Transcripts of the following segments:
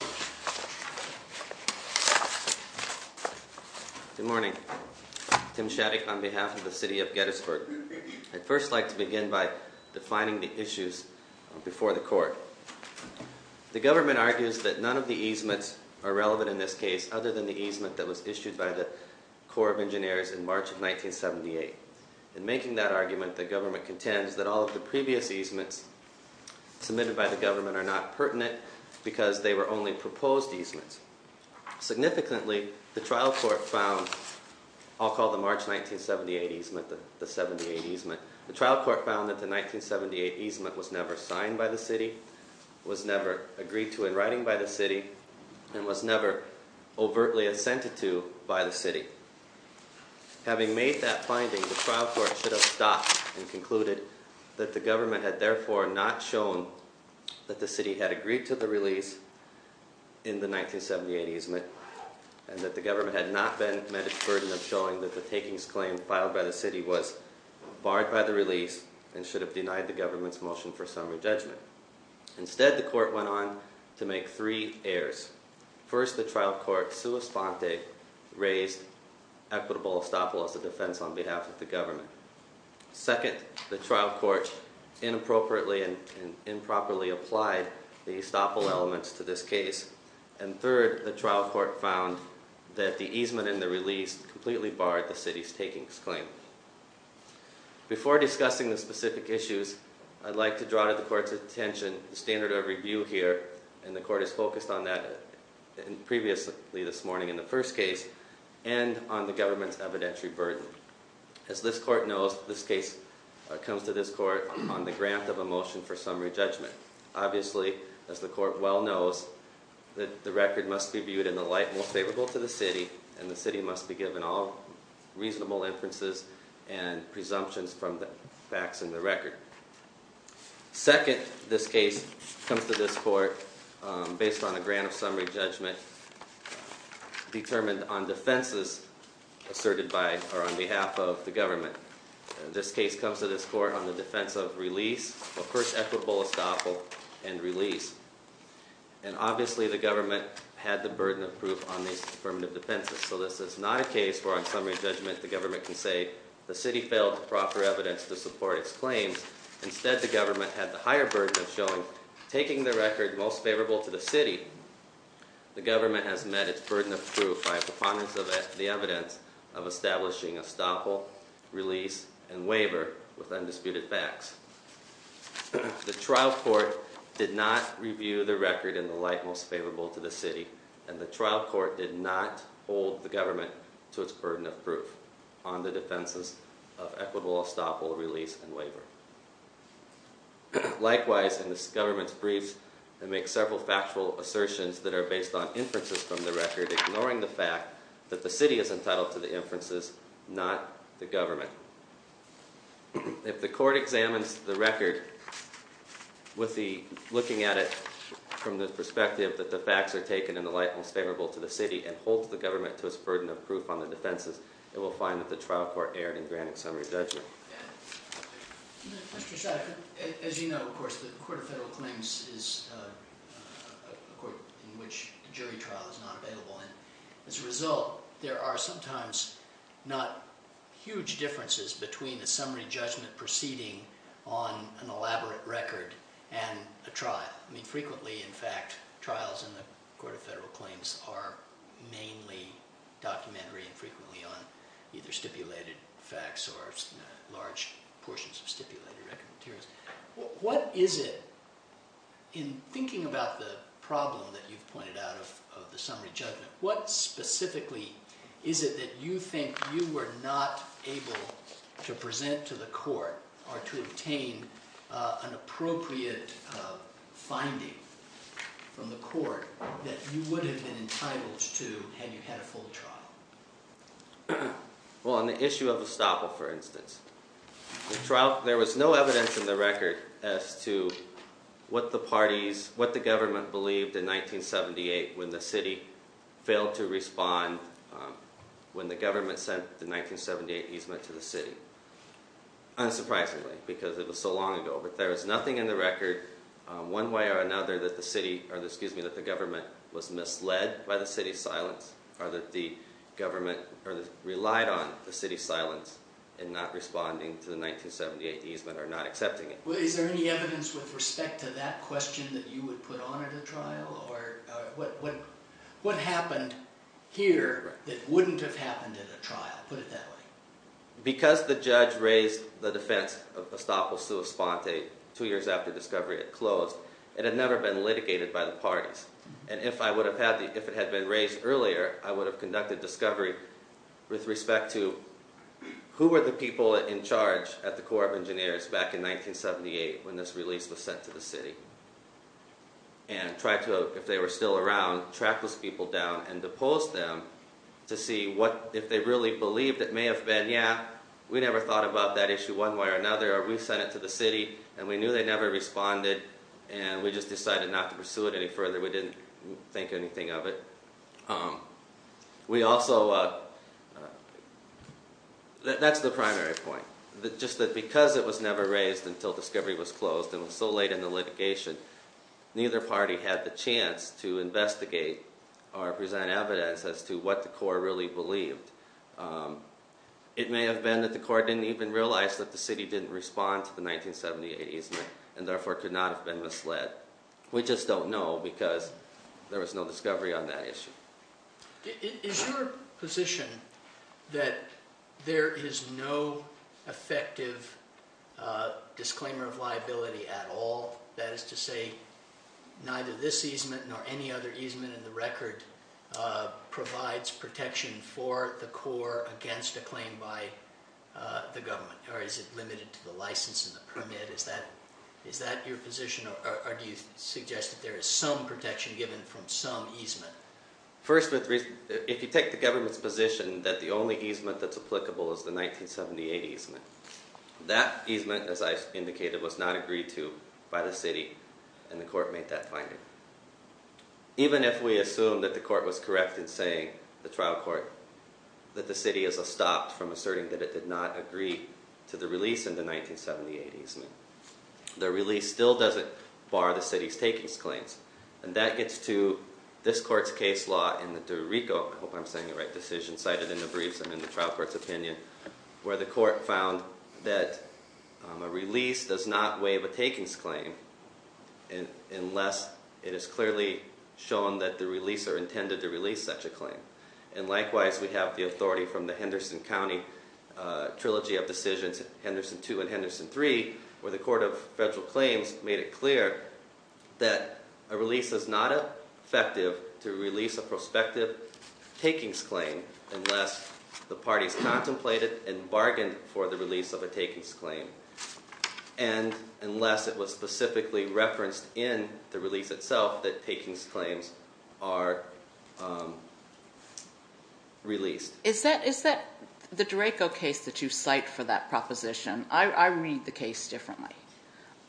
Good morning. Tim Shattuck on behalf of the City of Gettysburg. I'd first like to begin by defining the issues before the court. The government argues that none of the easements are relevant in this case other than the easement that was issued by the Corps of Engineers in March of 1978. In making that argument the government contends that all of the previous easements submitted by the government are not pertinent because they were only proposed easements. Significantly the trial court found, I'll call the March 1978 easement the 78 easement, the trial court found that the 1978 easement was never signed by the city, was never agreed to in writing by the city, and was never overtly assented to by the city. Having made that finding the trial court should have stopped and concluded that the government had therefore not shown that the city had agreed to the release in the 1978 easement and that the government had not been met its burden of showing that the takings claim filed by the city was barred by the release and should have denied the government's motion for summary judgment. Instead the court went on to make three errors. First the trial court sua sponte raised equitable estoppel as a defense on behalf of the government. Second the trial court inappropriately and improperly applied the estoppel elements to this case and third the trial court found that the easement in the release completely barred the city's takings claim. Before discussing the specific issues I'd like to draw to the court's attention the standard of review here and the court is on the government's evidentiary burden. As this court knows this case comes to this court on the grant of a motion for summary judgment. Obviously as the court well knows that the record must be viewed in the light most favorable to the city and the city must be given all reasonable inferences and presumptions from the facts in the record. Second this case comes to this court based on a grant of summary judgment determined on defenses asserted by or on behalf of the government. This case comes to this court on the defense of release of course equitable estoppel and release and obviously the government had the burden of proof on these affirmative defenses so this is not a case where on summary judgment the government can say the city failed to proffer evidence to support its claims. Instead the government had the higher burden of showing taking the record most favorable to the city the government has met its burden of proof by preponderance of the evidence of establishing estoppel release and waiver with undisputed facts. The trial court did not review the record in the light most favorable to the city and the trial court did not hold the government to its burden of proof on the defenses of equitable estoppel release and waiver. Likewise in this government's briefs and make several factual assertions that are based on inferences from the record ignoring the fact that the city is entitled to the inferences not the government. If the court examines the record with the looking at it from the perspective that the facts are taken in the light most favorable to the city and holds the government to its burden of proof on the defenses it will find that the trial court erred in granting summary judgment. As you know of course the Court of Federal Claims is a court in which a jury trial is not available and as a result there are sometimes not huge differences between a summary judgment proceeding on an elaborate record and a trial. I mean frequently in fact trials in the Court of Federal Claims are mainly documentary and frequently on the record. What is it, in thinking about the problem that you've pointed out of the summary judgment, what specifically is it that you think you were not able to present to the court or to obtain an appropriate finding from the court that you would have been entitled to had you had a full trial? Well on the issue of Estoppel for instance, there was no evidence in the record as to what the parties, what the government believed in 1978 when the city failed to respond when the government sent the 1978 easement to the city. Unsurprisingly because it was so long ago but there was nothing in the record one way or another that the government was misled by the city's silence or that the government relied on the city's silence in not responding to the 1978 easement or not accepting it. Is there any evidence with respect to that question that you would put on at a trial or what happened here that wouldn't have happened at a trial, put it that way? Because the judge raised the defense of Estoppel sua sponte two years after discovery had closed, it had never been litigated by the parties. And if it had been raised earlier, I would have conducted discovery with respect to who were the people in charge at the Corps of Engineers back in 1978 when this release was sent to the city. And try to, if they were still around, track those people down and depose them to see what, if they really believed it may have been, yeah we never thought about that issue one way or another or we sent it to the city and we knew they never responded and we just decided not to pursue it any further, we didn't think anything of it. We also, that's the primary point, just that because it was never raised until discovery was closed and it was so late in the litigation, neither party had the chance to investigate or present evidence as to what the Corps really believed. It may have been that the Corps didn't even realize that the city didn't respond to the 1978 easement and therefore could not have been misled. We just don't know because there was no discovery on that issue. Is your position that there is no effective disclaimer of liability at all, that is to say neither this easement nor any other easement in the record provides protection for the Corps against a claim by the government or is it limited to the license and the permit, is that your position or do you suggest that there is some protection given from some easement? First, if you take the government's position that the only easement that's applicable is the 1978 easement, that easement as I indicated was not agreed to by the city and the court made that finding. Even if we assume that the court was correct in saying, the trial court, that the city has stopped from asserting that it did not agree to the release in the 1978 easement, the release still doesn't bar the city's takings claims. And that gets to this court's case law in the DeRico, I hope I'm saying it right, decision cited in the briefs and in the trial court's opinion, where the court found that a release does not waive a takings claim unless it is clearly shown that the release or intended to release such a claim. And likewise we have the authority from the Henderson County Trilogy of Decisions, Henderson 2 and Henderson 3, where the Court of Federal Claims made it clear that a release is not effective to release a prospective takings claim unless the parties contemplated and bargained for the release of a takings claim. And unless it was specifically referenced in the release itself that takings claims are released. Is that the DeRico case that you cite for that proposition? I read the case differently.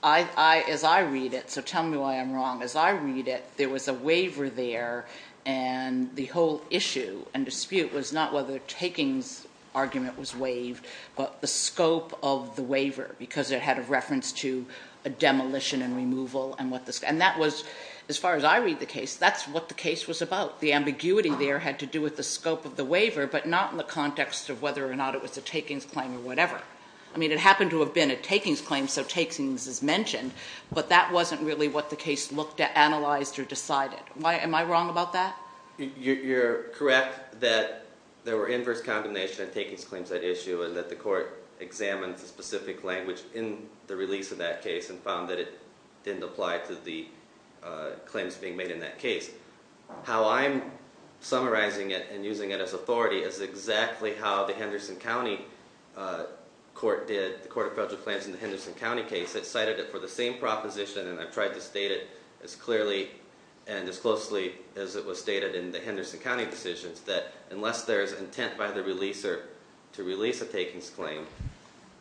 As I read it, so tell me why I'm wrong, as I read it, there was a waiver there and the whole issue and dispute was not whether takings argument was waived, but the scope of the waiver because it had a reference to a demolition and removal. And that was, as far as I read the case, that's what the case was about. The ambiguity there had to do with the scope of the waiver, but not in the context of whether or not it was a takings claim or whatever. I mean it happened to have been a takings claim, so takings is mentioned, but that wasn't really what the case looked at, analyzed or decided. Am I wrong about that? You're correct that there were inverse condemnation and takings claims at issue and that the court examined the specific language in the release of that case and found that it didn't apply to the claims being made in that case. How I'm summarizing it and using it as authority is exactly how the Henderson County Court did the Court of Federal Claims in the Henderson County case. It cited it for the same proposition and I've tried to state it as clearly and as closely as it was stated in the Henderson County decisions that unless there's intent by the releaser to release a takings claim,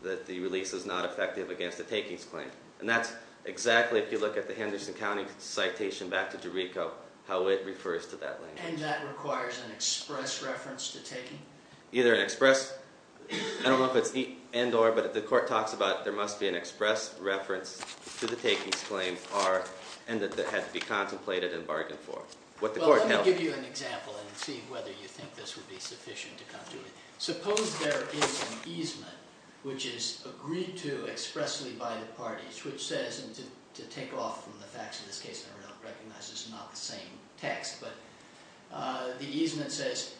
that the release is not effective against a takings claim. And that's exactly, if you look at the Henderson County citation back to DeRico, how it refers to that language. And that requires an express reference to taking? Either an express, I don't know if it's and or, but the court talks about there must be an express reference to the takings claim and that it had to be contemplated and bargained for. Well, let me give you an example and see whether you think this would be sufficient to come to it. Suppose there is an easement which is agreed to expressly by the parties which says, and to take off from the facts of this case, I recognize it's not the same text, but the easement says,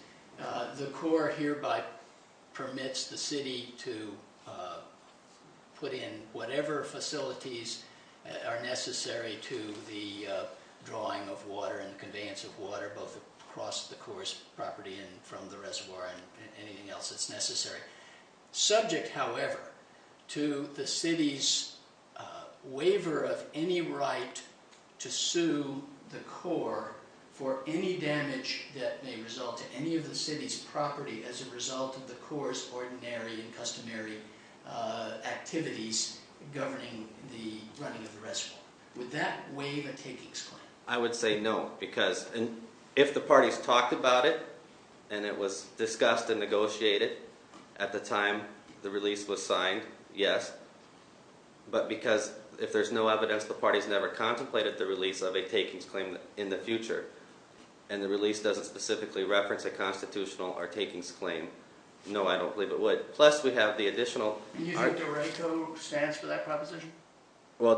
the court hereby permits the city to put in whatever facilities are necessary to the drawing of water and conveyance of water both across the court's property and from the reservoir and anything else that's necessary. Subject, however, to the city's waiver of any right to sue the court for any damage that may result to any of the city's property as a result of the court's ordinary and customary activities governing the running of the reservoir. Would that waive a takings claim? I would say no because if the parties talked about it and it was discussed and negotiated at the time the release was signed, yes, but because if there's no evidence the parties never contemplated the release of a takings claim in the future and the release doesn't specifically reference a constitutional or takings claim, no, I don't believe it would. Plus, we have the additional... Do you think DRACO stands for that proposition? My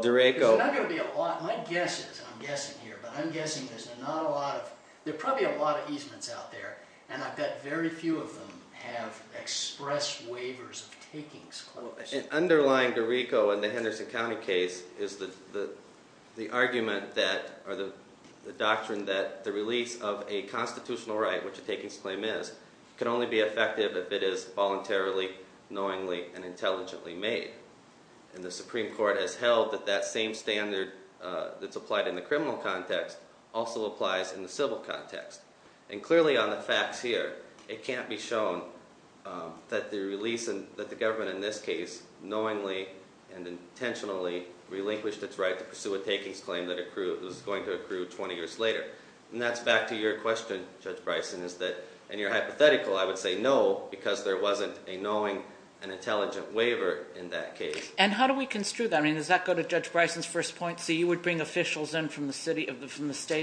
guess is, and I'm guessing here, but I'm guessing there's not a lot of, there are probably a lot of easements out there and I bet very few of them have expressed waivers of takings claims. Underlying DRACO in the Henderson County case is the argument that, or the doctrine that the release of a constitutional right, which a takings claim is, can only be effective if it is voluntarily, knowingly, and intelligently made. And the Supreme Court has held that that same standard that's applied in the criminal context also applies in the civil context. And clearly on the facts here, it can't be shown that the release, that the government in this case, knowingly and intentionally relinquished its right to pursue a takings claim that was going to accrue 20 years later. And that's back to your question, Judge Bryson, is that, and you're hypothetical, I would say no, because there wasn't a knowing and intelligent waiver in that case. And how do we construe that? I mean, does that go to Judge Bryson's first point? So you would bring officials in from the state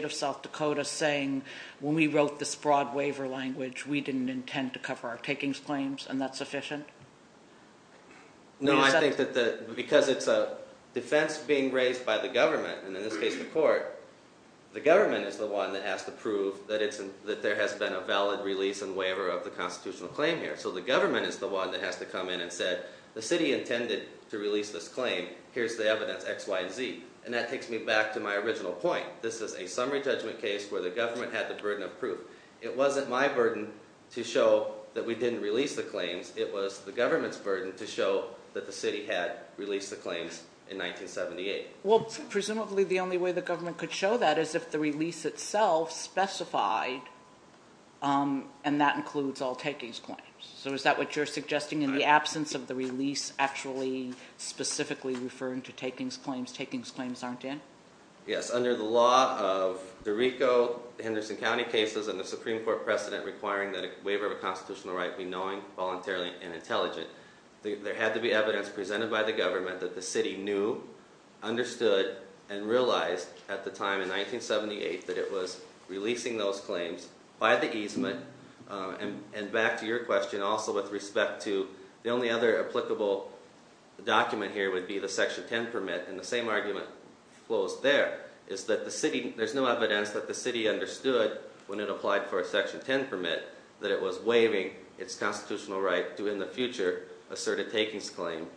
of South Dakota saying, when we wrote this broad waiver language, we didn't intend to cover our takings claims, and that's sufficient? No, I think that because it's a defense being raised by the government, and in this case the court, the government is the one that has to prove that there has been a valid release and waiver of the constitutional claim here. So the government is the one that has to come in and say, the city intended to release this claim, here's the evidence, X, Y, and Z. And that takes me back to my original point. This is a summary judgment case where the government had the burden of proof. It wasn't my burden to show that we didn't release the claims, it was the government's burden to show that the city had released the claims in 1978. Well, presumably the only way the government could show that is if the release itself specified, and that includes all takings claims. So is that what you're suggesting, in the absence of the release actually specifically referring to takings claims, takings claims aren't in? Yes, under the law of the Rico, Henderson County cases and the Supreme Court precedent requiring that a waiver of a constitutional right be knowing, voluntarily, and intelligent. There had to be evidence presented by the government that the city knew, understood, and realized at the time in 1978 that it was releasing those claims by the easement. And back to your question, also with respect to the only other applicable document here would be the Section 10 permit, and the same argument flows there, is that there's no evidence that the city understood when it applied for a Section 10 permit that it was waiving its constitutional right to, in the future, assert a takings claim.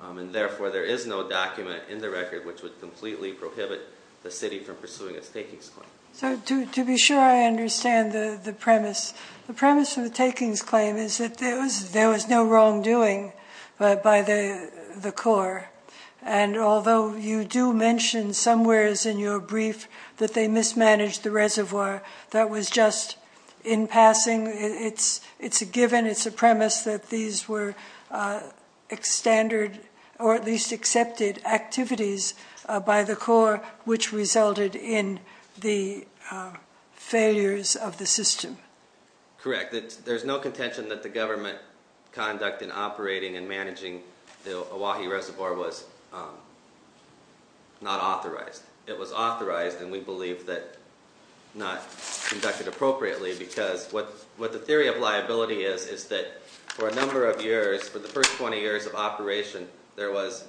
And therefore, there is no document in the record which would completely prohibit the city from pursuing its takings claim. So to be sure I understand the premise. The premise of the takings claim is that there was no wrongdoing by the Corps. And although you do mention somewheres in your brief that they mismanaged the reservoir that was just in passing, it's a given, it's a premise that these were standard or at least accepted activities by the Corps which resulted in the failures of the system. Correct. There's no contention that the government conduct in operating and managing the Oahe Reservoir was not authorized. It was authorized and we believe that not conducted appropriately because what the theory of liability is, is that for a number of years, for the first 20 years of operation, there was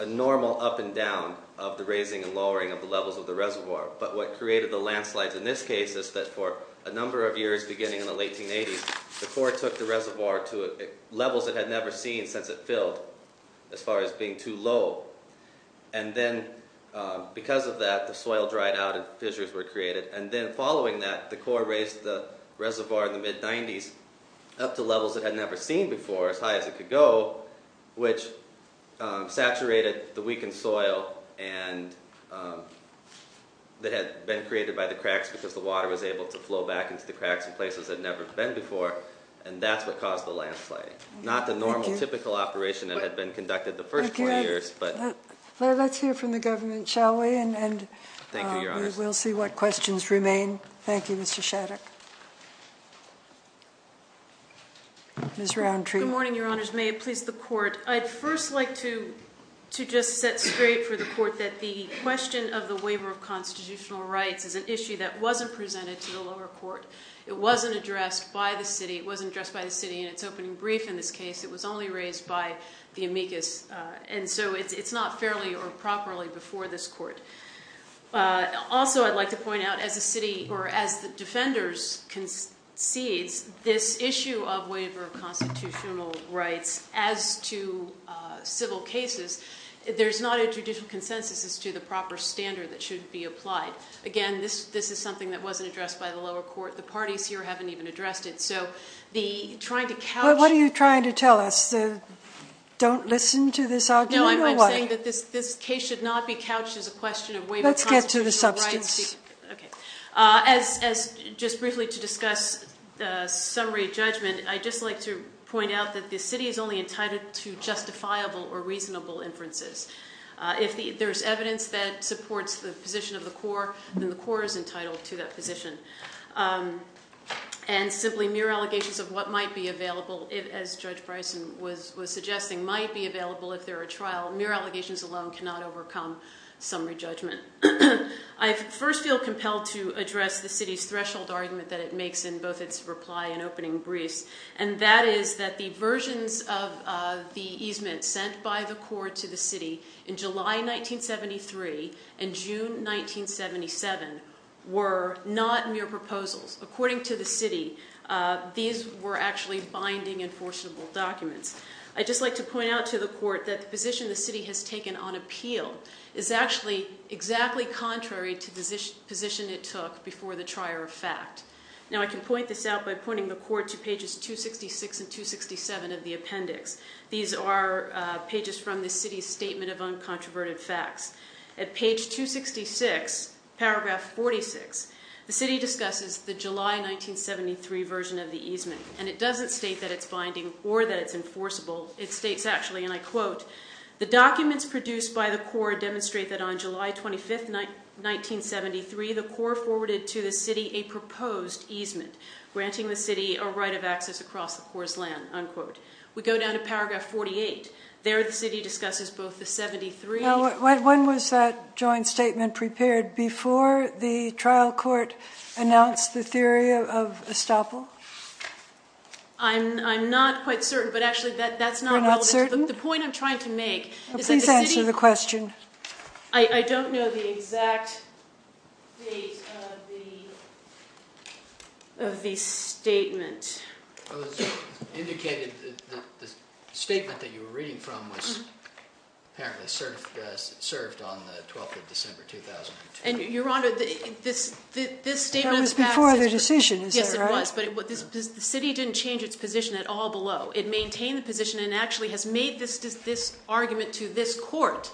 a normal up and down of the raising and lowering of the levels of the reservoir. But what created the landslides in this case is that for a number of years beginning in the late 1980s, the Corps took the reservoir to levels it had never seen since it filled as far as being too low. And then because of that, the soil dried out and fissures were created. And then following that, the Corps raised the reservoir in the mid-90s up to levels it had never seen before, as high as it could go, which saturated the weakened soil that had been created by the cracks because the water was able to flow back into the cracks in places it had never been before. And that's what caused the landslide. Not the normal, typical operation that had been conducted the first 20 years. Thank you. Let's hear from the government, shall we? Thank you, Your Honors. And we'll see what questions remain. Thank you, Mr. Shattuck. Ms. Roundtree. Good morning, Your Honors. May it please the Court. I'd first like to just set straight for the Court that the question of the waiver of constitutional rights is an issue that wasn't presented to the lower court. It wasn't addressed by the city. It wasn't addressed by the city in its opening brief in this case. It was only raised by the amicus. And so it's not fairly or properly before this court. Also, I'd like to point out, as the city or as the defenders concedes this issue of waiver of constitutional rights as to civil cases, there's not a judicial consensus as to the proper standard that should be applied. Again, this is something that wasn't addressed by the lower court. The parties here haven't even addressed it. So the trying to couch – What are you trying to tell us? Don't listen to this argument or what? No, I'm saying that this case should not be couched as a question of waiver of constitutional rights. Let's get to the substance. Okay. As just briefly to discuss summary judgment, I'd just like to point out that the city is only entitled to justifiable or reasonable inferences. If there's evidence that supports the position of the court, then the court is entitled to that position. And simply mere allegations of what might be available, as Judge Bryson was suggesting, might be available if there are trial. Mere allegations alone cannot overcome summary judgment. I first feel compelled to address the city's threshold argument that it makes in both its reply and opening briefs. And that is that the versions of the easement sent by the court to the city in July 1973 and June 1977 were not mere proposals. According to the city, these were actually binding enforceable documents. I'd just like to point out to the court that the position the city has taken on appeal is actually exactly contrary to the position it took before the trier of fact. Now, I can point this out by pointing the court to pages 266 and 267 of the appendix. These are pages from the city's statement of uncontroverted facts. At page 266, paragraph 46, the city discusses the July 1973 version of the easement. And it doesn't state that it's binding or that it's enforceable. It states, actually, and I quote, the documents produced by the court demonstrate that on July 25th, 1973, the court forwarded to the city a proposed easement, granting the city a right of access across the court's land, unquote. We go down to paragraph 48. There, the city discusses both the 73. Now, when was that joint statement prepared before the trial court announced the theory of estoppel? I'm not quite certain, but actually, that's not relevant. You're not certain? The point I'm trying to make is that the city... Please answer the question. I don't know the exact date of the statement. It was indicated that the statement that you were reading from was apparently served on the 12th of December, 2002. And, Your Honor, this statement of facts... That was before the decision, is that right? Yes, it was, but the city didn't change its position at all below. It maintained the position and actually has made this argument to this court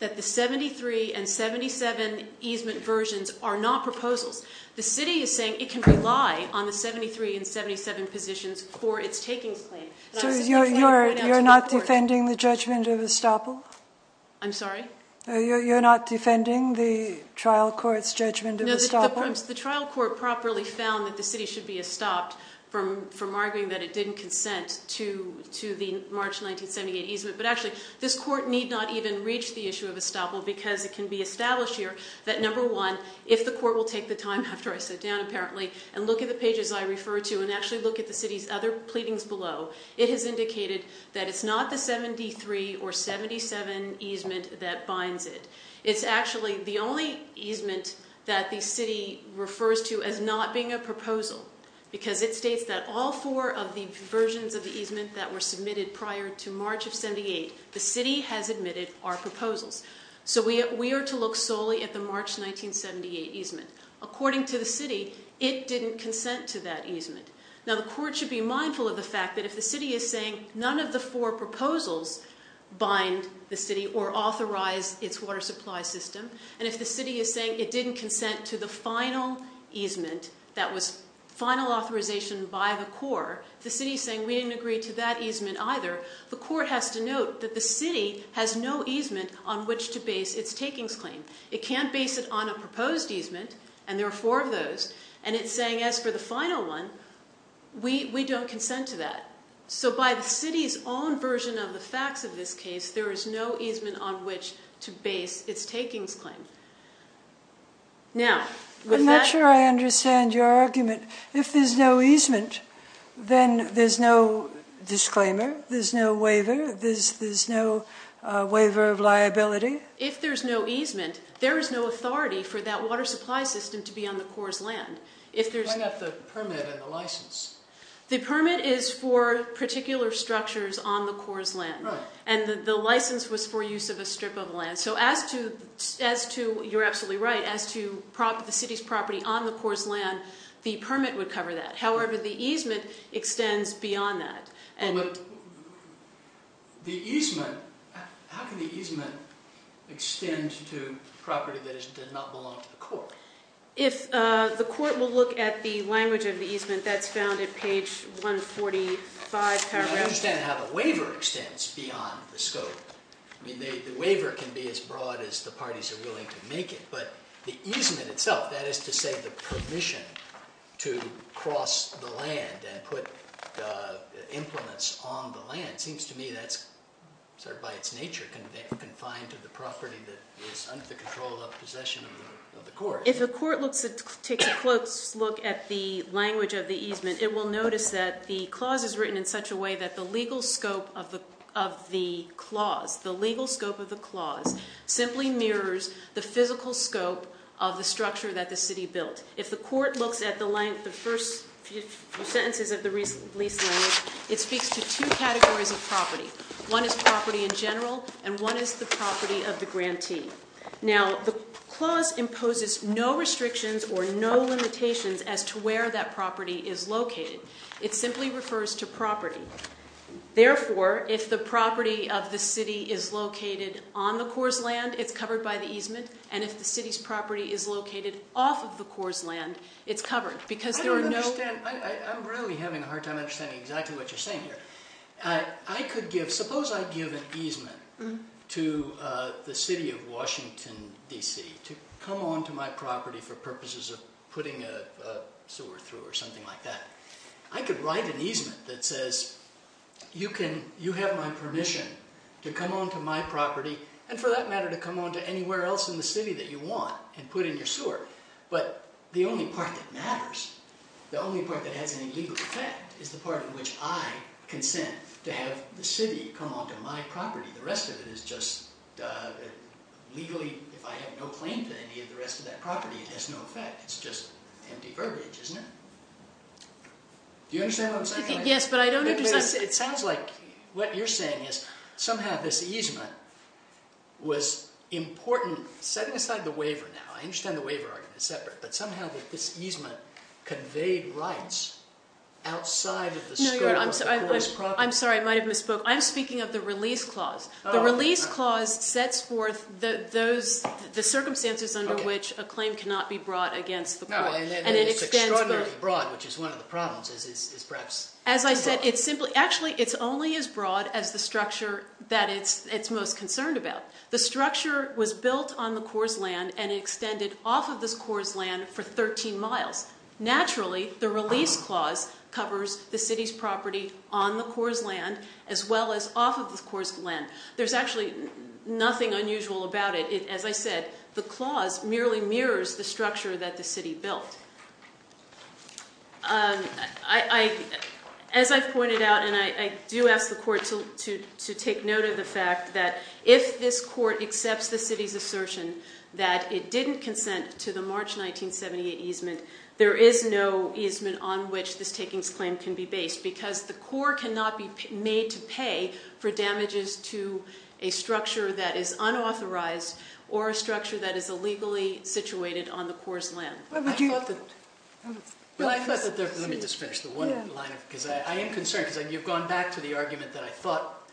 that the 73 and 77 easement versions are not proposals. The city is saying it can rely on the 73 and 77 positions for its takings claim. So, you're not defending the judgment of estoppel? I'm sorry? The trial court properly found that the city should be estopped from arguing that it didn't consent to the March 1978 easement. But, actually, this court need not even reach the issue of estoppel because it can be established here that, number one, if the court will take the time after I sit down, apparently, and look at the pages I refer to and actually look at the city's other pleadings below, it has indicated that it's not the 73 or 77 easement that binds it. It's actually the only easement that the city refers to as not being a proposal because it states that all four of the versions of the easement that were submitted prior to March of 78, the city has admitted are proposals. So, we are to look solely at the March 1978 easement. According to the city, it didn't consent to that easement. Now, the court should be mindful of the fact that if the city is saying none of the four proposals bind the city or authorize its water supply system, and if the city is saying it didn't consent to the final easement that was final authorization by the court, the city is saying we didn't agree to that easement either, the court has to note that the city has no easement on which to base its takings claim. It can't base it on a proposed easement, and there are four of those, and it's saying as for the final one, we don't consent to that. So, by the city's own version of the facts of this case, there is no easement on which to base its takings claim. Now, with that- I'm not sure I understand your argument. If there's no easement, then there's no disclaimer, there's no waiver, there's no waiver of liability. If there's no easement, there is no authority for that water supply system to be on the Corps' land. If there's- I got the permit and the license. The permit is for particular structures on the Corps' land. Right. And the license was for use of a strip of land. So, as to, you're absolutely right, as to the city's property on the Corps' land, the permit would cover that. However, the easement extends beyond that. Well, but the easement, how can the easement extend to property that does not belong to the Corps? If the Court will look at the language of the easement, that's found at page 145. I understand how the waiver extends beyond the scope. I mean, the waiver can be as broad as the parties are willing to make it, but the easement itself, that is to say the permission to cross the land and put implements on the land, seems to me that's sort of by its nature confined to the property that is under the control of possession of the Corps. If the Court takes a close look at the language of the easement, it will notice that the clause is written in such a way that the legal scope of the clause, simply mirrors the physical scope of the structure that the city built. If the Court looks at the length of the first few sentences of the lease language, it speaks to two categories of property. One is property in general, and one is the property of the grantee. Now, the clause imposes no restrictions or no limitations as to where that property is located. It simply refers to property. Therefore, if the property of the city is located on the Corps' land, it's covered by the easement, and if the city's property is located off of the Corps' land, it's covered, because there are no- I don't understand. I'm really having a hard time understanding exactly what you're saying here. I could give, suppose I give an easement to the city of Washington, D.C., to come onto my property for purposes of putting a sewer through or something like that. I could write an easement that says, you have my permission to come onto my property, and for that matter, to come onto anywhere else in the city that you want and put in your sewer. But the only part that matters, the only part that has any legal effect, is the part in which I consent to have the city come onto my property. The rest of it is just legally, if I have no claim to any of the rest of that property, it has no effect. It's just empty verbiage, isn't it? Do you understand what I'm saying? Yes, but I don't understand- It sounds like what you're saying is, somehow this easement was important, setting aside the waiver now, I understand the waiver argument is separate, but somehow this easement conveyed rights outside of the scope of the Corps' property. I'm sorry, I might have misspoke. I'm speaking of the release clause. The release clause sets forth the circumstances under which a claim cannot be brought against the Corps. It's extraordinarily broad, which is one of the problems. As I said, it's only as broad as the structure that it's most concerned about. The structure was built on the Corps' land and extended off of this Corps' land for 13 miles. Naturally, the release clause covers the city's property on the Corps' land as well as off of the Corps' land. There's actually nothing unusual about it. As I said, the clause merely mirrors the structure that the city built. As I've pointed out, and I do ask the Court to take note of the fact that if this Court accepts the city's assertion that it didn't consent to the March 1978 easement, there is no easement on which this takings claim can be based, because the Corps cannot be made to pay for damages to a structure that is unauthorized or a structure that is illegally situated on the Corps' land. Let me just finish the one line, because I am concerned. You've gone back to the argument that I thought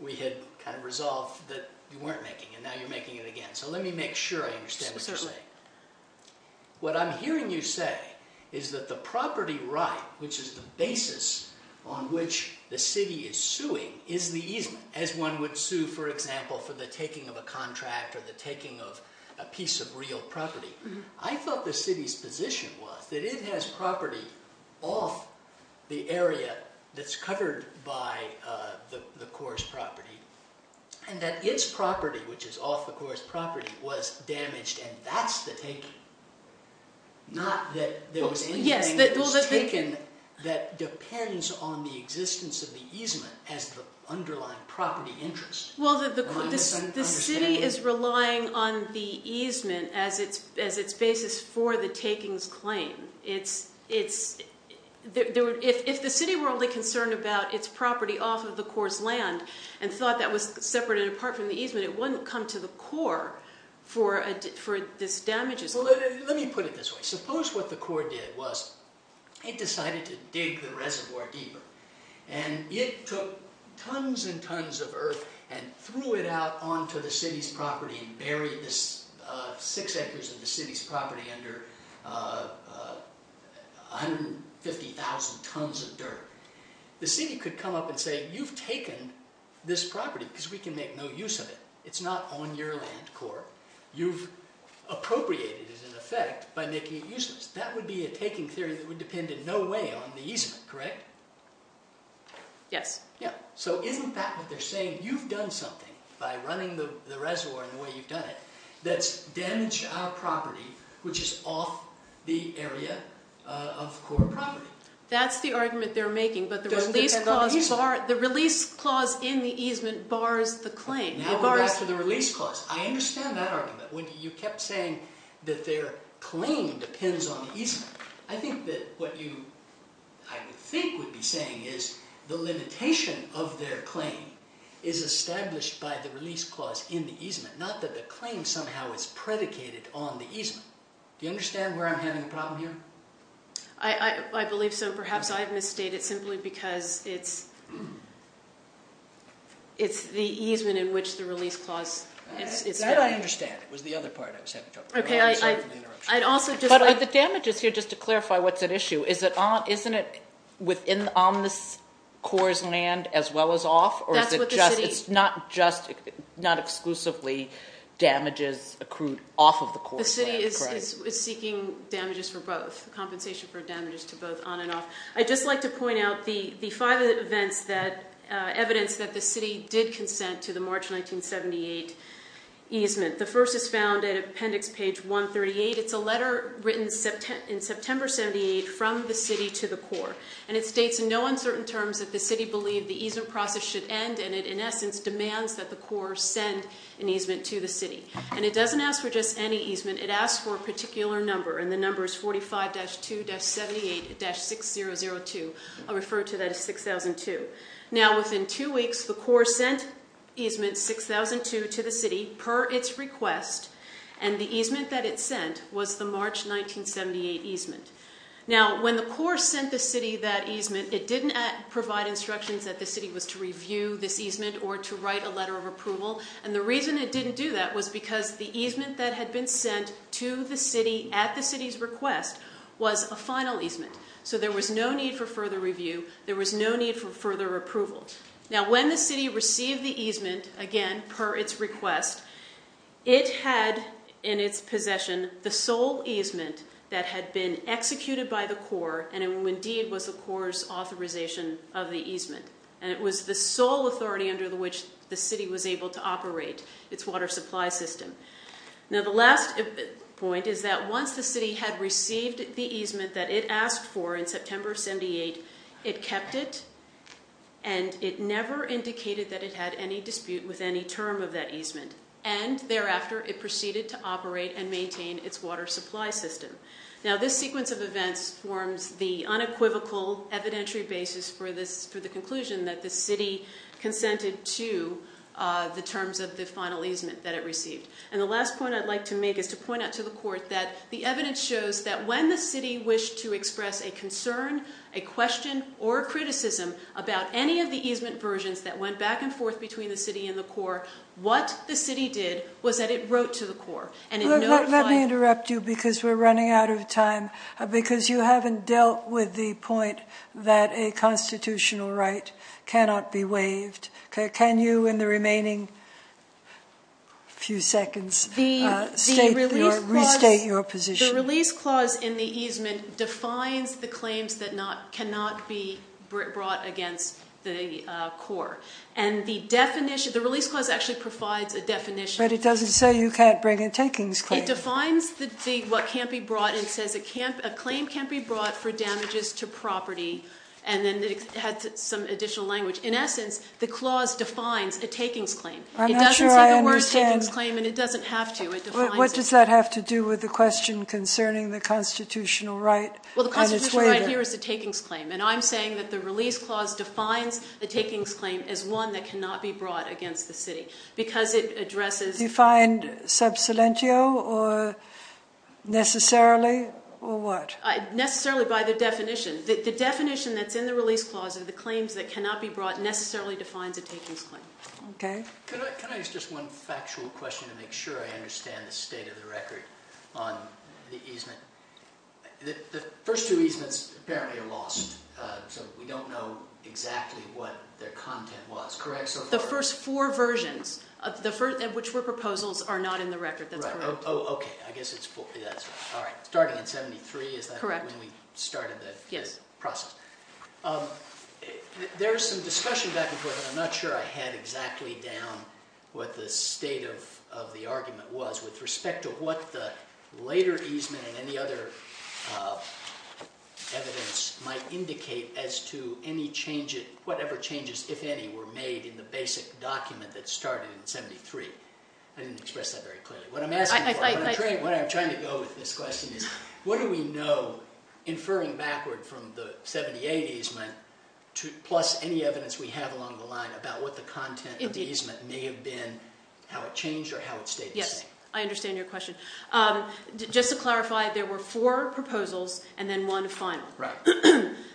we had resolved that you weren't making, and now you're making it again, so let me make sure I understand what you're saying. What I'm hearing you say is that the property right, which is the basis on which the city is suing, is the easement, as one would sue, for example, for the taking of a contract or the taking of a piece of real property. I thought the city's position was that it has property off the area that's covered by the Corps' property, and that its property, which is off the Corps' property, was damaged, and that's the taking. Not that there was anything that was taken that depends on the existence of the easement as the underlying property interest. Well, the city is relying on the easement as its basis for the taking's claim. If the city were only concerned about its property off of the Corps' land and thought that was separate and apart from the easement, it wouldn't come to the Corps for this damage. Well, let me put it this way. Suppose what the Corps did was it decided to dig the reservoir deeper, and it took tons and tons of earth and threw it out onto the city's property and buried six acres of the city's property under 150,000 tons of dirt. The city could come up and say, you've taken this property because we can make no use of it. It's not on your land, Corps. You've appropriated it, in effect, by making it useless. That would be a taking theory that would depend in no way on the easement, correct? Yes. So isn't that what they're saying? You've done something by running the reservoir in the way you've done it that's damaged our property, which is off the area of Corps property. That's the argument they're making, but the release clause in the easement bars the claim. Now we're back to the release clause. I understand that argument. You kept saying that their claim depends on the easement. I think that what you, I think, would be saying is the limitation of their claim is established by the release clause in the easement, not that the claim somehow is predicated on the easement. Do you understand where I'm having a problem here? I believe so. Perhaps I've misstated simply because it's the easement in which the release clause is. That I understand. It was the other part I was having trouble with. I'm sorry for the interruption. But are the damages here, just to clarify what's at issue, isn't it within on the Corps' land as well as off, or is it just not exclusively damages accrued off of the Corps' land? The city is seeking damages for both, compensation for damages to both on and off. I'd just like to point out the five events that evidence that the city did consent to the March 1978 easement. The first is found in appendix page 138. It's a letter written in September 1978 from the city to the Corps. And it states in no uncertain terms that the city believed the easement process should end, and it in essence demands that the Corps send an easement to the city. And it doesn't ask for just any easement. It asks for a particular number, and the number is 45-2-78-6002. I'll refer to that as 6002. Now, within two weeks, the Corps sent easement 6002 to the city per its request, and the easement that it sent was the March 1978 easement. Now, when the Corps sent the city that easement, it didn't provide instructions that the city was to review this easement or to write a letter of approval. And the reason it didn't do that was because the easement that had been sent to the city at the city's request was a final easement. So there was no need for further review. There was no need for further approval. Now, when the city received the easement, again, per its request, it had in its possession the sole easement that had been executed by the Corps and indeed was the Corps' authorization of the easement. And it was the sole authority under which the city was able to operate its water supply system. Now, the last point is that once the city had received the easement that it asked for in September of 78, it kept it and it never indicated that it had any dispute with any term of that easement. And thereafter, it proceeded to operate and maintain its water supply system. Now, this sequence of events forms the unequivocal evidentiary basis for the conclusion that the city consented to the terms of the final easement that it received. And the last point I'd like to make is to point out to the Court that the evidence shows that when the city wished to express a concern, a question, or a criticism about any of the easement versions that went back and forth between the city and the Corps, what the city did was that it wrote to the Corps. And in no time— Let me interrupt you because we're running out of time, because you haven't dealt with the point that a constitutional right cannot be waived. Can you, in the remaining few seconds, restate your position? The release clause in the easement defines the claims that cannot be brought against the Corps. And the release clause actually provides a definition. But it doesn't say you can't bring a takings claim. It defines what can't be brought, and it says a claim can't be brought for damages to property. And then it has some additional language. In essence, the clause defines a takings claim. I'm not sure I understand. It doesn't say the word takings claim, and it doesn't have to. What does that have to do with the question concerning the constitutional right? Well, the constitutional right here is a takings claim. And I'm saying that the release clause defines a takings claim as one that cannot be brought against the city because it addresses— Defined sub silentio or necessarily or what? Necessarily by the definition. The definition that's in the release clause of the claims that cannot be brought necessarily defines a takings claim. Okay. Can I ask just one factual question to make sure I understand the state of the record on the easement? The first two easements apparently are lost, so we don't know exactly what their content was. Correct? The first four versions, which were proposals, are not in the record. That's correct. Oh, okay. I guess it's—all right. Starting in 73, is that when we started the process? Yes. There is some discussion back and forth, and I'm not sure I had exactly down what the state of the argument was with respect to what the later easement and any other evidence might indicate as to any changes—whatever changes, if any, were made in the basic document that started in 73. I didn't express that very clearly. What I'm asking for—what I'm trying to go with this question is what do we know, inferring backward from the 78 easement plus any evidence we have along the line about what the content of the easement may have been, how it changed, or how it stayed the same? Yes. I understand your question. Just to clarify, there were four proposals and then one final. Right.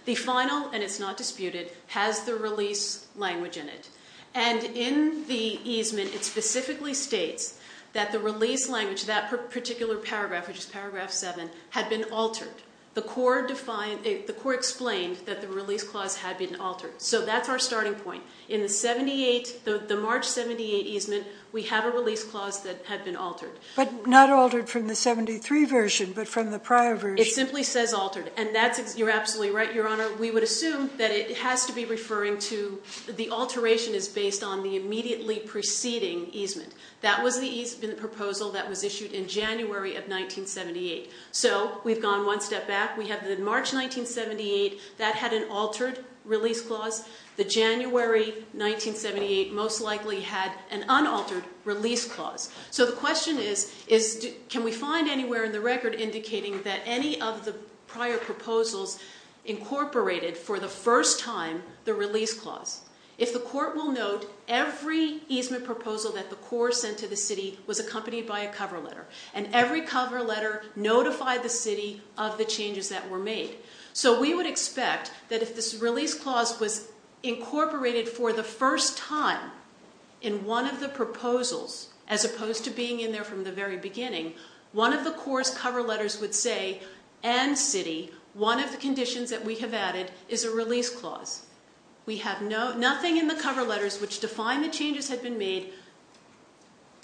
The final, and it's not disputed, has the release language in it. And in the easement, it specifically states that the release language, that particular paragraph, which is paragraph 7, had been altered. The court defined—the court explained that the release clause had been altered. So that's our starting point. In the 78—the March 78 easement, we have a release clause that had been altered. But not altered from the 73 version, but from the prior version. It simply says altered. And that's—you're absolutely right, Your Honor. We would assume that it has to be referring to—the alteration is based on the immediately preceding easement. That was the easement proposal that was issued in January of 1978. So we've gone one step back. We have the March 1978. That had an altered release clause. The January 1978 most likely had an unaltered release clause. So the question is, can we find anywhere in the record indicating that any of the prior proposals incorporated for the first time the release clause? If the court will note, every easement proposal that the court sent to the city was accompanied by a cover letter. And every cover letter notified the city of the changes that were made. So we would expect that if this release clause was incorporated for the first time in one of the proposals, as opposed to being in there from the very beginning, one of the court's cover letters would say, and city, one of the conditions that we have added is a release clause. We have nothing in the cover letters which define the changes had been made,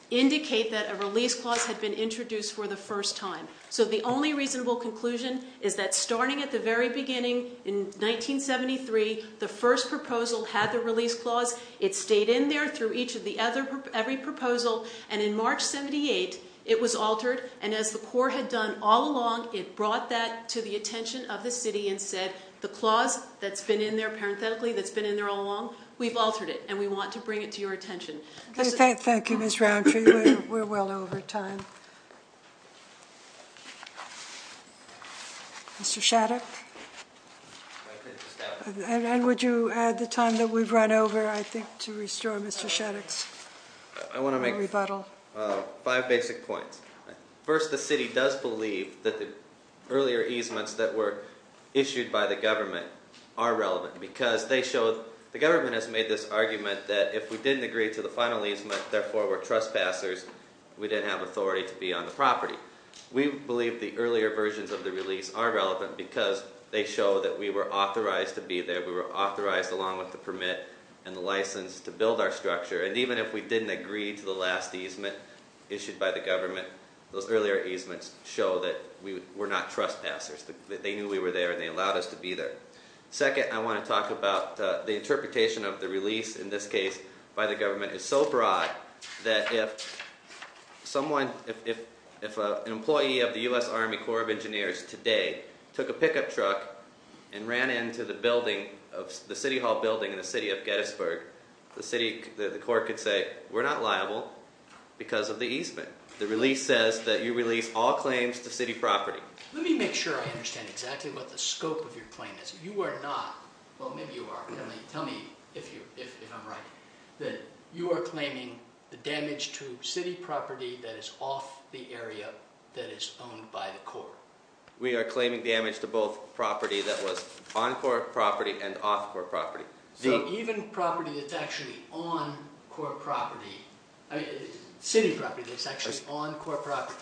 indicate that a release clause had been introduced for the first time. So the only reasonable conclusion is that starting at the very beginning in 1973, the first proposal had the release clause. It stayed in there through each of the other, every proposal. And in March 1978, it was altered. And as the court had done all along, it brought that to the attention of the city and said, the clause that's been in there, parenthetically, that's been in there all along, we've altered it. And we want to bring it to your attention. Thank you, Ms. Roundtree. We're well over time. Mr. Shattuck? And would you add the time that we've run over, I think, to restore Mr. Shattuck's rebuttal? I want to make five basic points. First, the city does believe that the earlier easements that were issued by the government are relevant because the government has made this argument that if we didn't agree to the final easement, therefore we're trespassers, we didn't have authority to be on the property. We believe the earlier versions of the release are relevant because they show that we were authorized to be there. We were authorized, along with the permit and the license, to build our structure. And even if we didn't agree to the last easement issued by the government, those earlier easements show that we're not trespassers, that they knew we were there and they allowed us to be there. Second, I want to talk about the interpretation of the release in this case by the government is so broad that if an employee of the U.S. Army Corps of Engineers today took a pickup truck and ran into the City Hall building in the city of Gettysburg, the court could say, we're not liable because of the easement. The release says that you release all claims to city property. Let me make sure I understand exactly what the scope of your claim is. You are not, well maybe you are, tell me if I'm right, that you are claiming the damage to city property that is off the area that is owned by the Corps. We are claiming damage to both property that was on Corps property and off Corps property. So even property that's actually on Corps property, I mean city property that's actually on Corps property.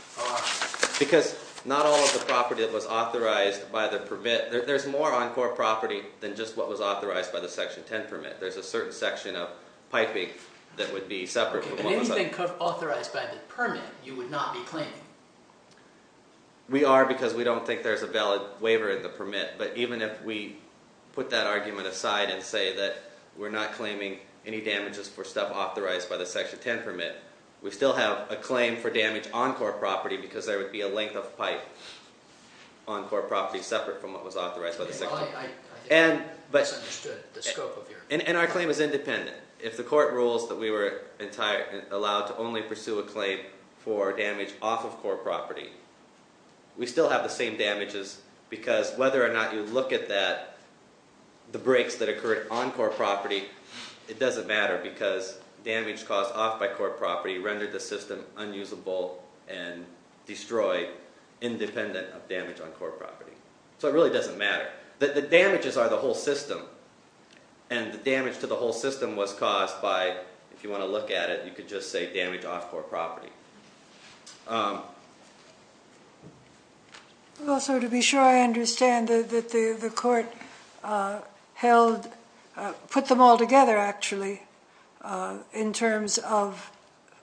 Because not all of the property that was authorized by the permit, there's more on Corps property than just what was authorized by the Section 10 permit. There's a certain section of piping that would be separate. Anything authorized by the permit you would not be claiming? We are because we don't think there's a valid waiver of the permit. But even if we put that argument aside and say that we're not claiming any damages for stuff authorized by the Section 10 permit, we still have a claim for damage on Corps property because there would be a length of pipe on Corps property separate from what was authorized by the Section 10 permit. I think I best understood the scope of your claim. And our claim is independent. If the court rules that we were allowed to only pursue a claim for damage off of Corps property, we still have the same damages because whether or not you look at that, the breaks that occurred on Corps property, it doesn't matter because damage caused off by Corps property rendered the system unusable and destroyed independent of damage on Corps property. So it really doesn't matter. The damages are the whole system. And the damage to the whole system was caused by, if you want to look at it, you could just say damage off Corps property. Well, so to be sure I understand that the court put them all together, actually, in terms of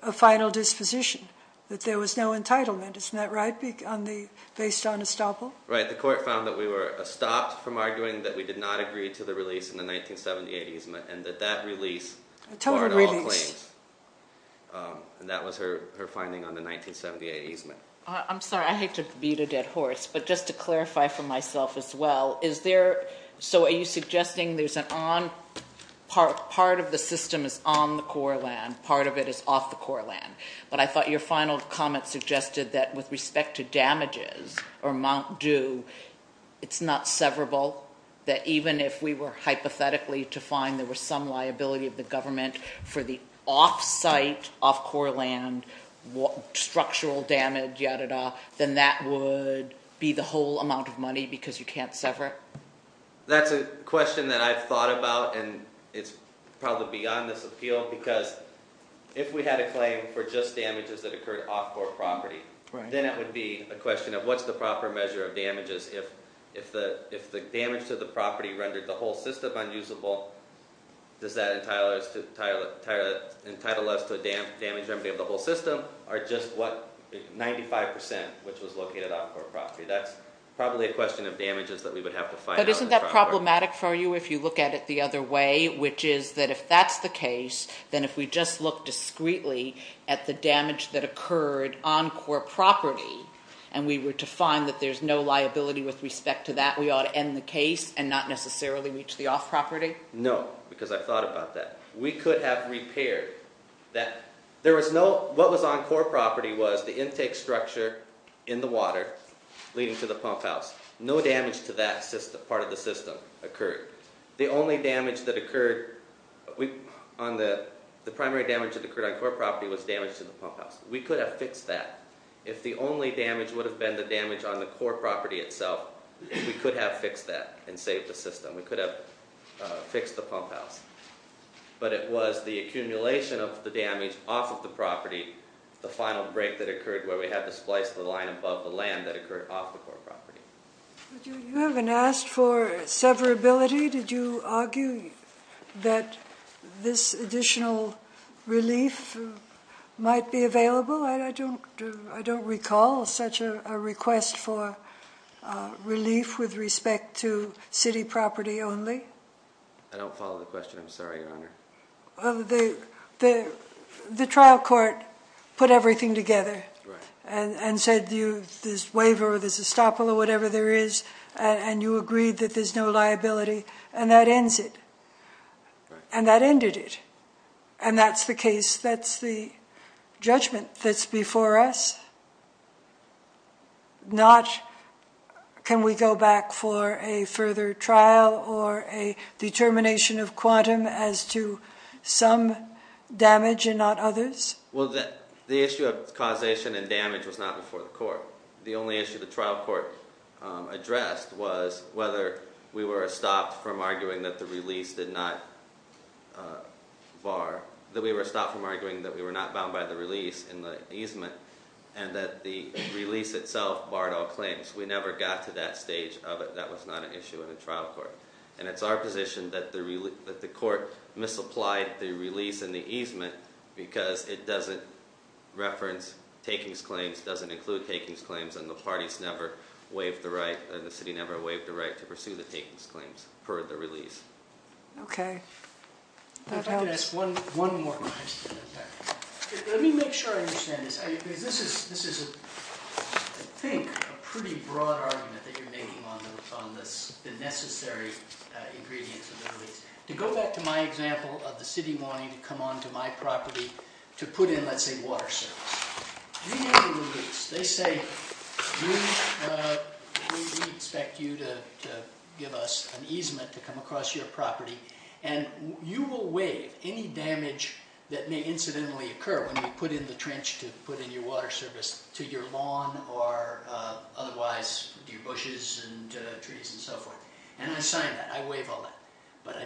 a final disposition, that there was no entitlement. Isn't that right, based on estoppel? Right. The court found that we were stopped from arguing that we did not agree to the release in the 1970s and 1980s and that that release warranted all claims. A total release. And that was her finding on the 1978 easement. I'm sorry. I hate to beat a dead horse, but just to clarify for myself as well, is there – so are you suggesting there's an on – part of the system is on the Corps land, part of it is off the Corps land. But I thought your final comment suggested that with respect to damages or Mount Dew, it's not severable, that even if we were hypothetically to find there was some liability of the government for the off-site, off-Corps land, structural damage, yada, yada, then that would be the whole amount of money because you can't sever it? That's a question that I've thought about, and it's probably beyond this appeal, because if we had a claim for just damages that occurred off Corps property, then it would be a question of what's the proper measure of damages if the damage to the property rendered the whole system unusable. Does that entitle us to a damage remedy of the whole system or just what 95 percent, which was located off Corps property? That's probably a question of damages that we would have to find out. But isn't that problematic for you if you look at it the other way, which is that if that's the case, then if we just look discreetly at the damage that occurred on Corps property and we were to find that there's no liability with respect to that, we ought to end the case and not necessarily reach the off property? No, because I thought about that. We could have repaired that. There was no—what was on Corps property was the intake structure in the water leading to the pump house. No damage to that part of the system occurred. The only damage that occurred on the—the primary damage that occurred on Corps property was damage to the pump house. We could have fixed that. If the only damage would have been the damage on the Corps property itself, we could have fixed that and saved the system. We could have fixed the pump house. But it was the accumulation of the damage off of the property, the final break that occurred where we had to splice the line above the land that occurred off the Corps property. You haven't asked for severability. Did you argue that this additional relief might be available? I don't recall such a request for relief with respect to city property only. I don't follow the question. I'm sorry, Your Honor. The trial court put everything together and said this waiver, this estoppel, or whatever there is, and you agreed that there's no liability, and that ends it. And that ended it. And that's the case. Can we go back for a further trial or a determination of quantum as to some damage and not others? Well, the issue of causation and damage was not before the court. The only issue the trial court addressed was whether we were stopped from arguing that the release did not var—that we were stopped from arguing that we were not bound by the release in the easement and that the release itself barred all claims. We never got to that stage of it. That was not an issue in the trial court. And it's our position that the court misapplied the release and the easement because it doesn't reference takings claims, doesn't include takings claims, and the parties never waived the right, and the city never waived the right to pursue the takings claims for the release. Okay. If I could ask one more question. Let me make sure I understand this because this is, I think, a pretty broad argument that you're making on this, the necessary ingredients of the release. To go back to my example of the city wanting to come onto my property to put in, let's say, water service. You need a release. They say, we expect you to give us an easement to come across your property, and you will waive any damage that may incidentally occur when you put in the trench to put in your water service to your lawn or otherwise your bushes and trees and so forth. And I sign that. I waive all that. But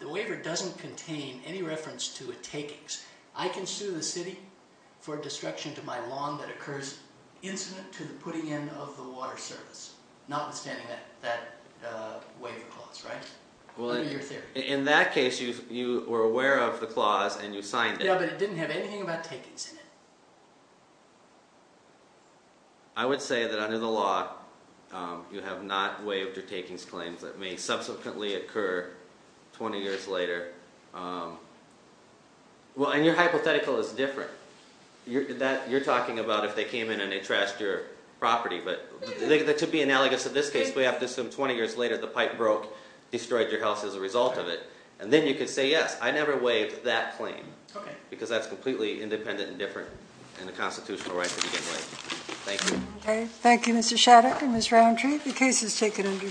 the waiver doesn't contain any reference to a takings. I can sue the city for destruction to my lawn that occurs incident to the putting in of the water service, notwithstanding that waiver clause, right? In that case, you were aware of the clause and you signed it. Yeah, but it didn't have anything about takings in it. I would say that under the law, you have not waived your takings claims that may subsequently occur 20 years later. Well, and your hypothetical is different. You're talking about if they came in and they trashed your property, but that could be analogous to this case. We have to assume 20 years later the pipe broke, destroyed your house as a result of it. And then you could say, yes, I never waived that claim because that's completely independent and different in the constitutional right to begin with. Thank you. Okay. Thank you, Mr. Shatter and Ms. Roundtree. The case is taken under submission.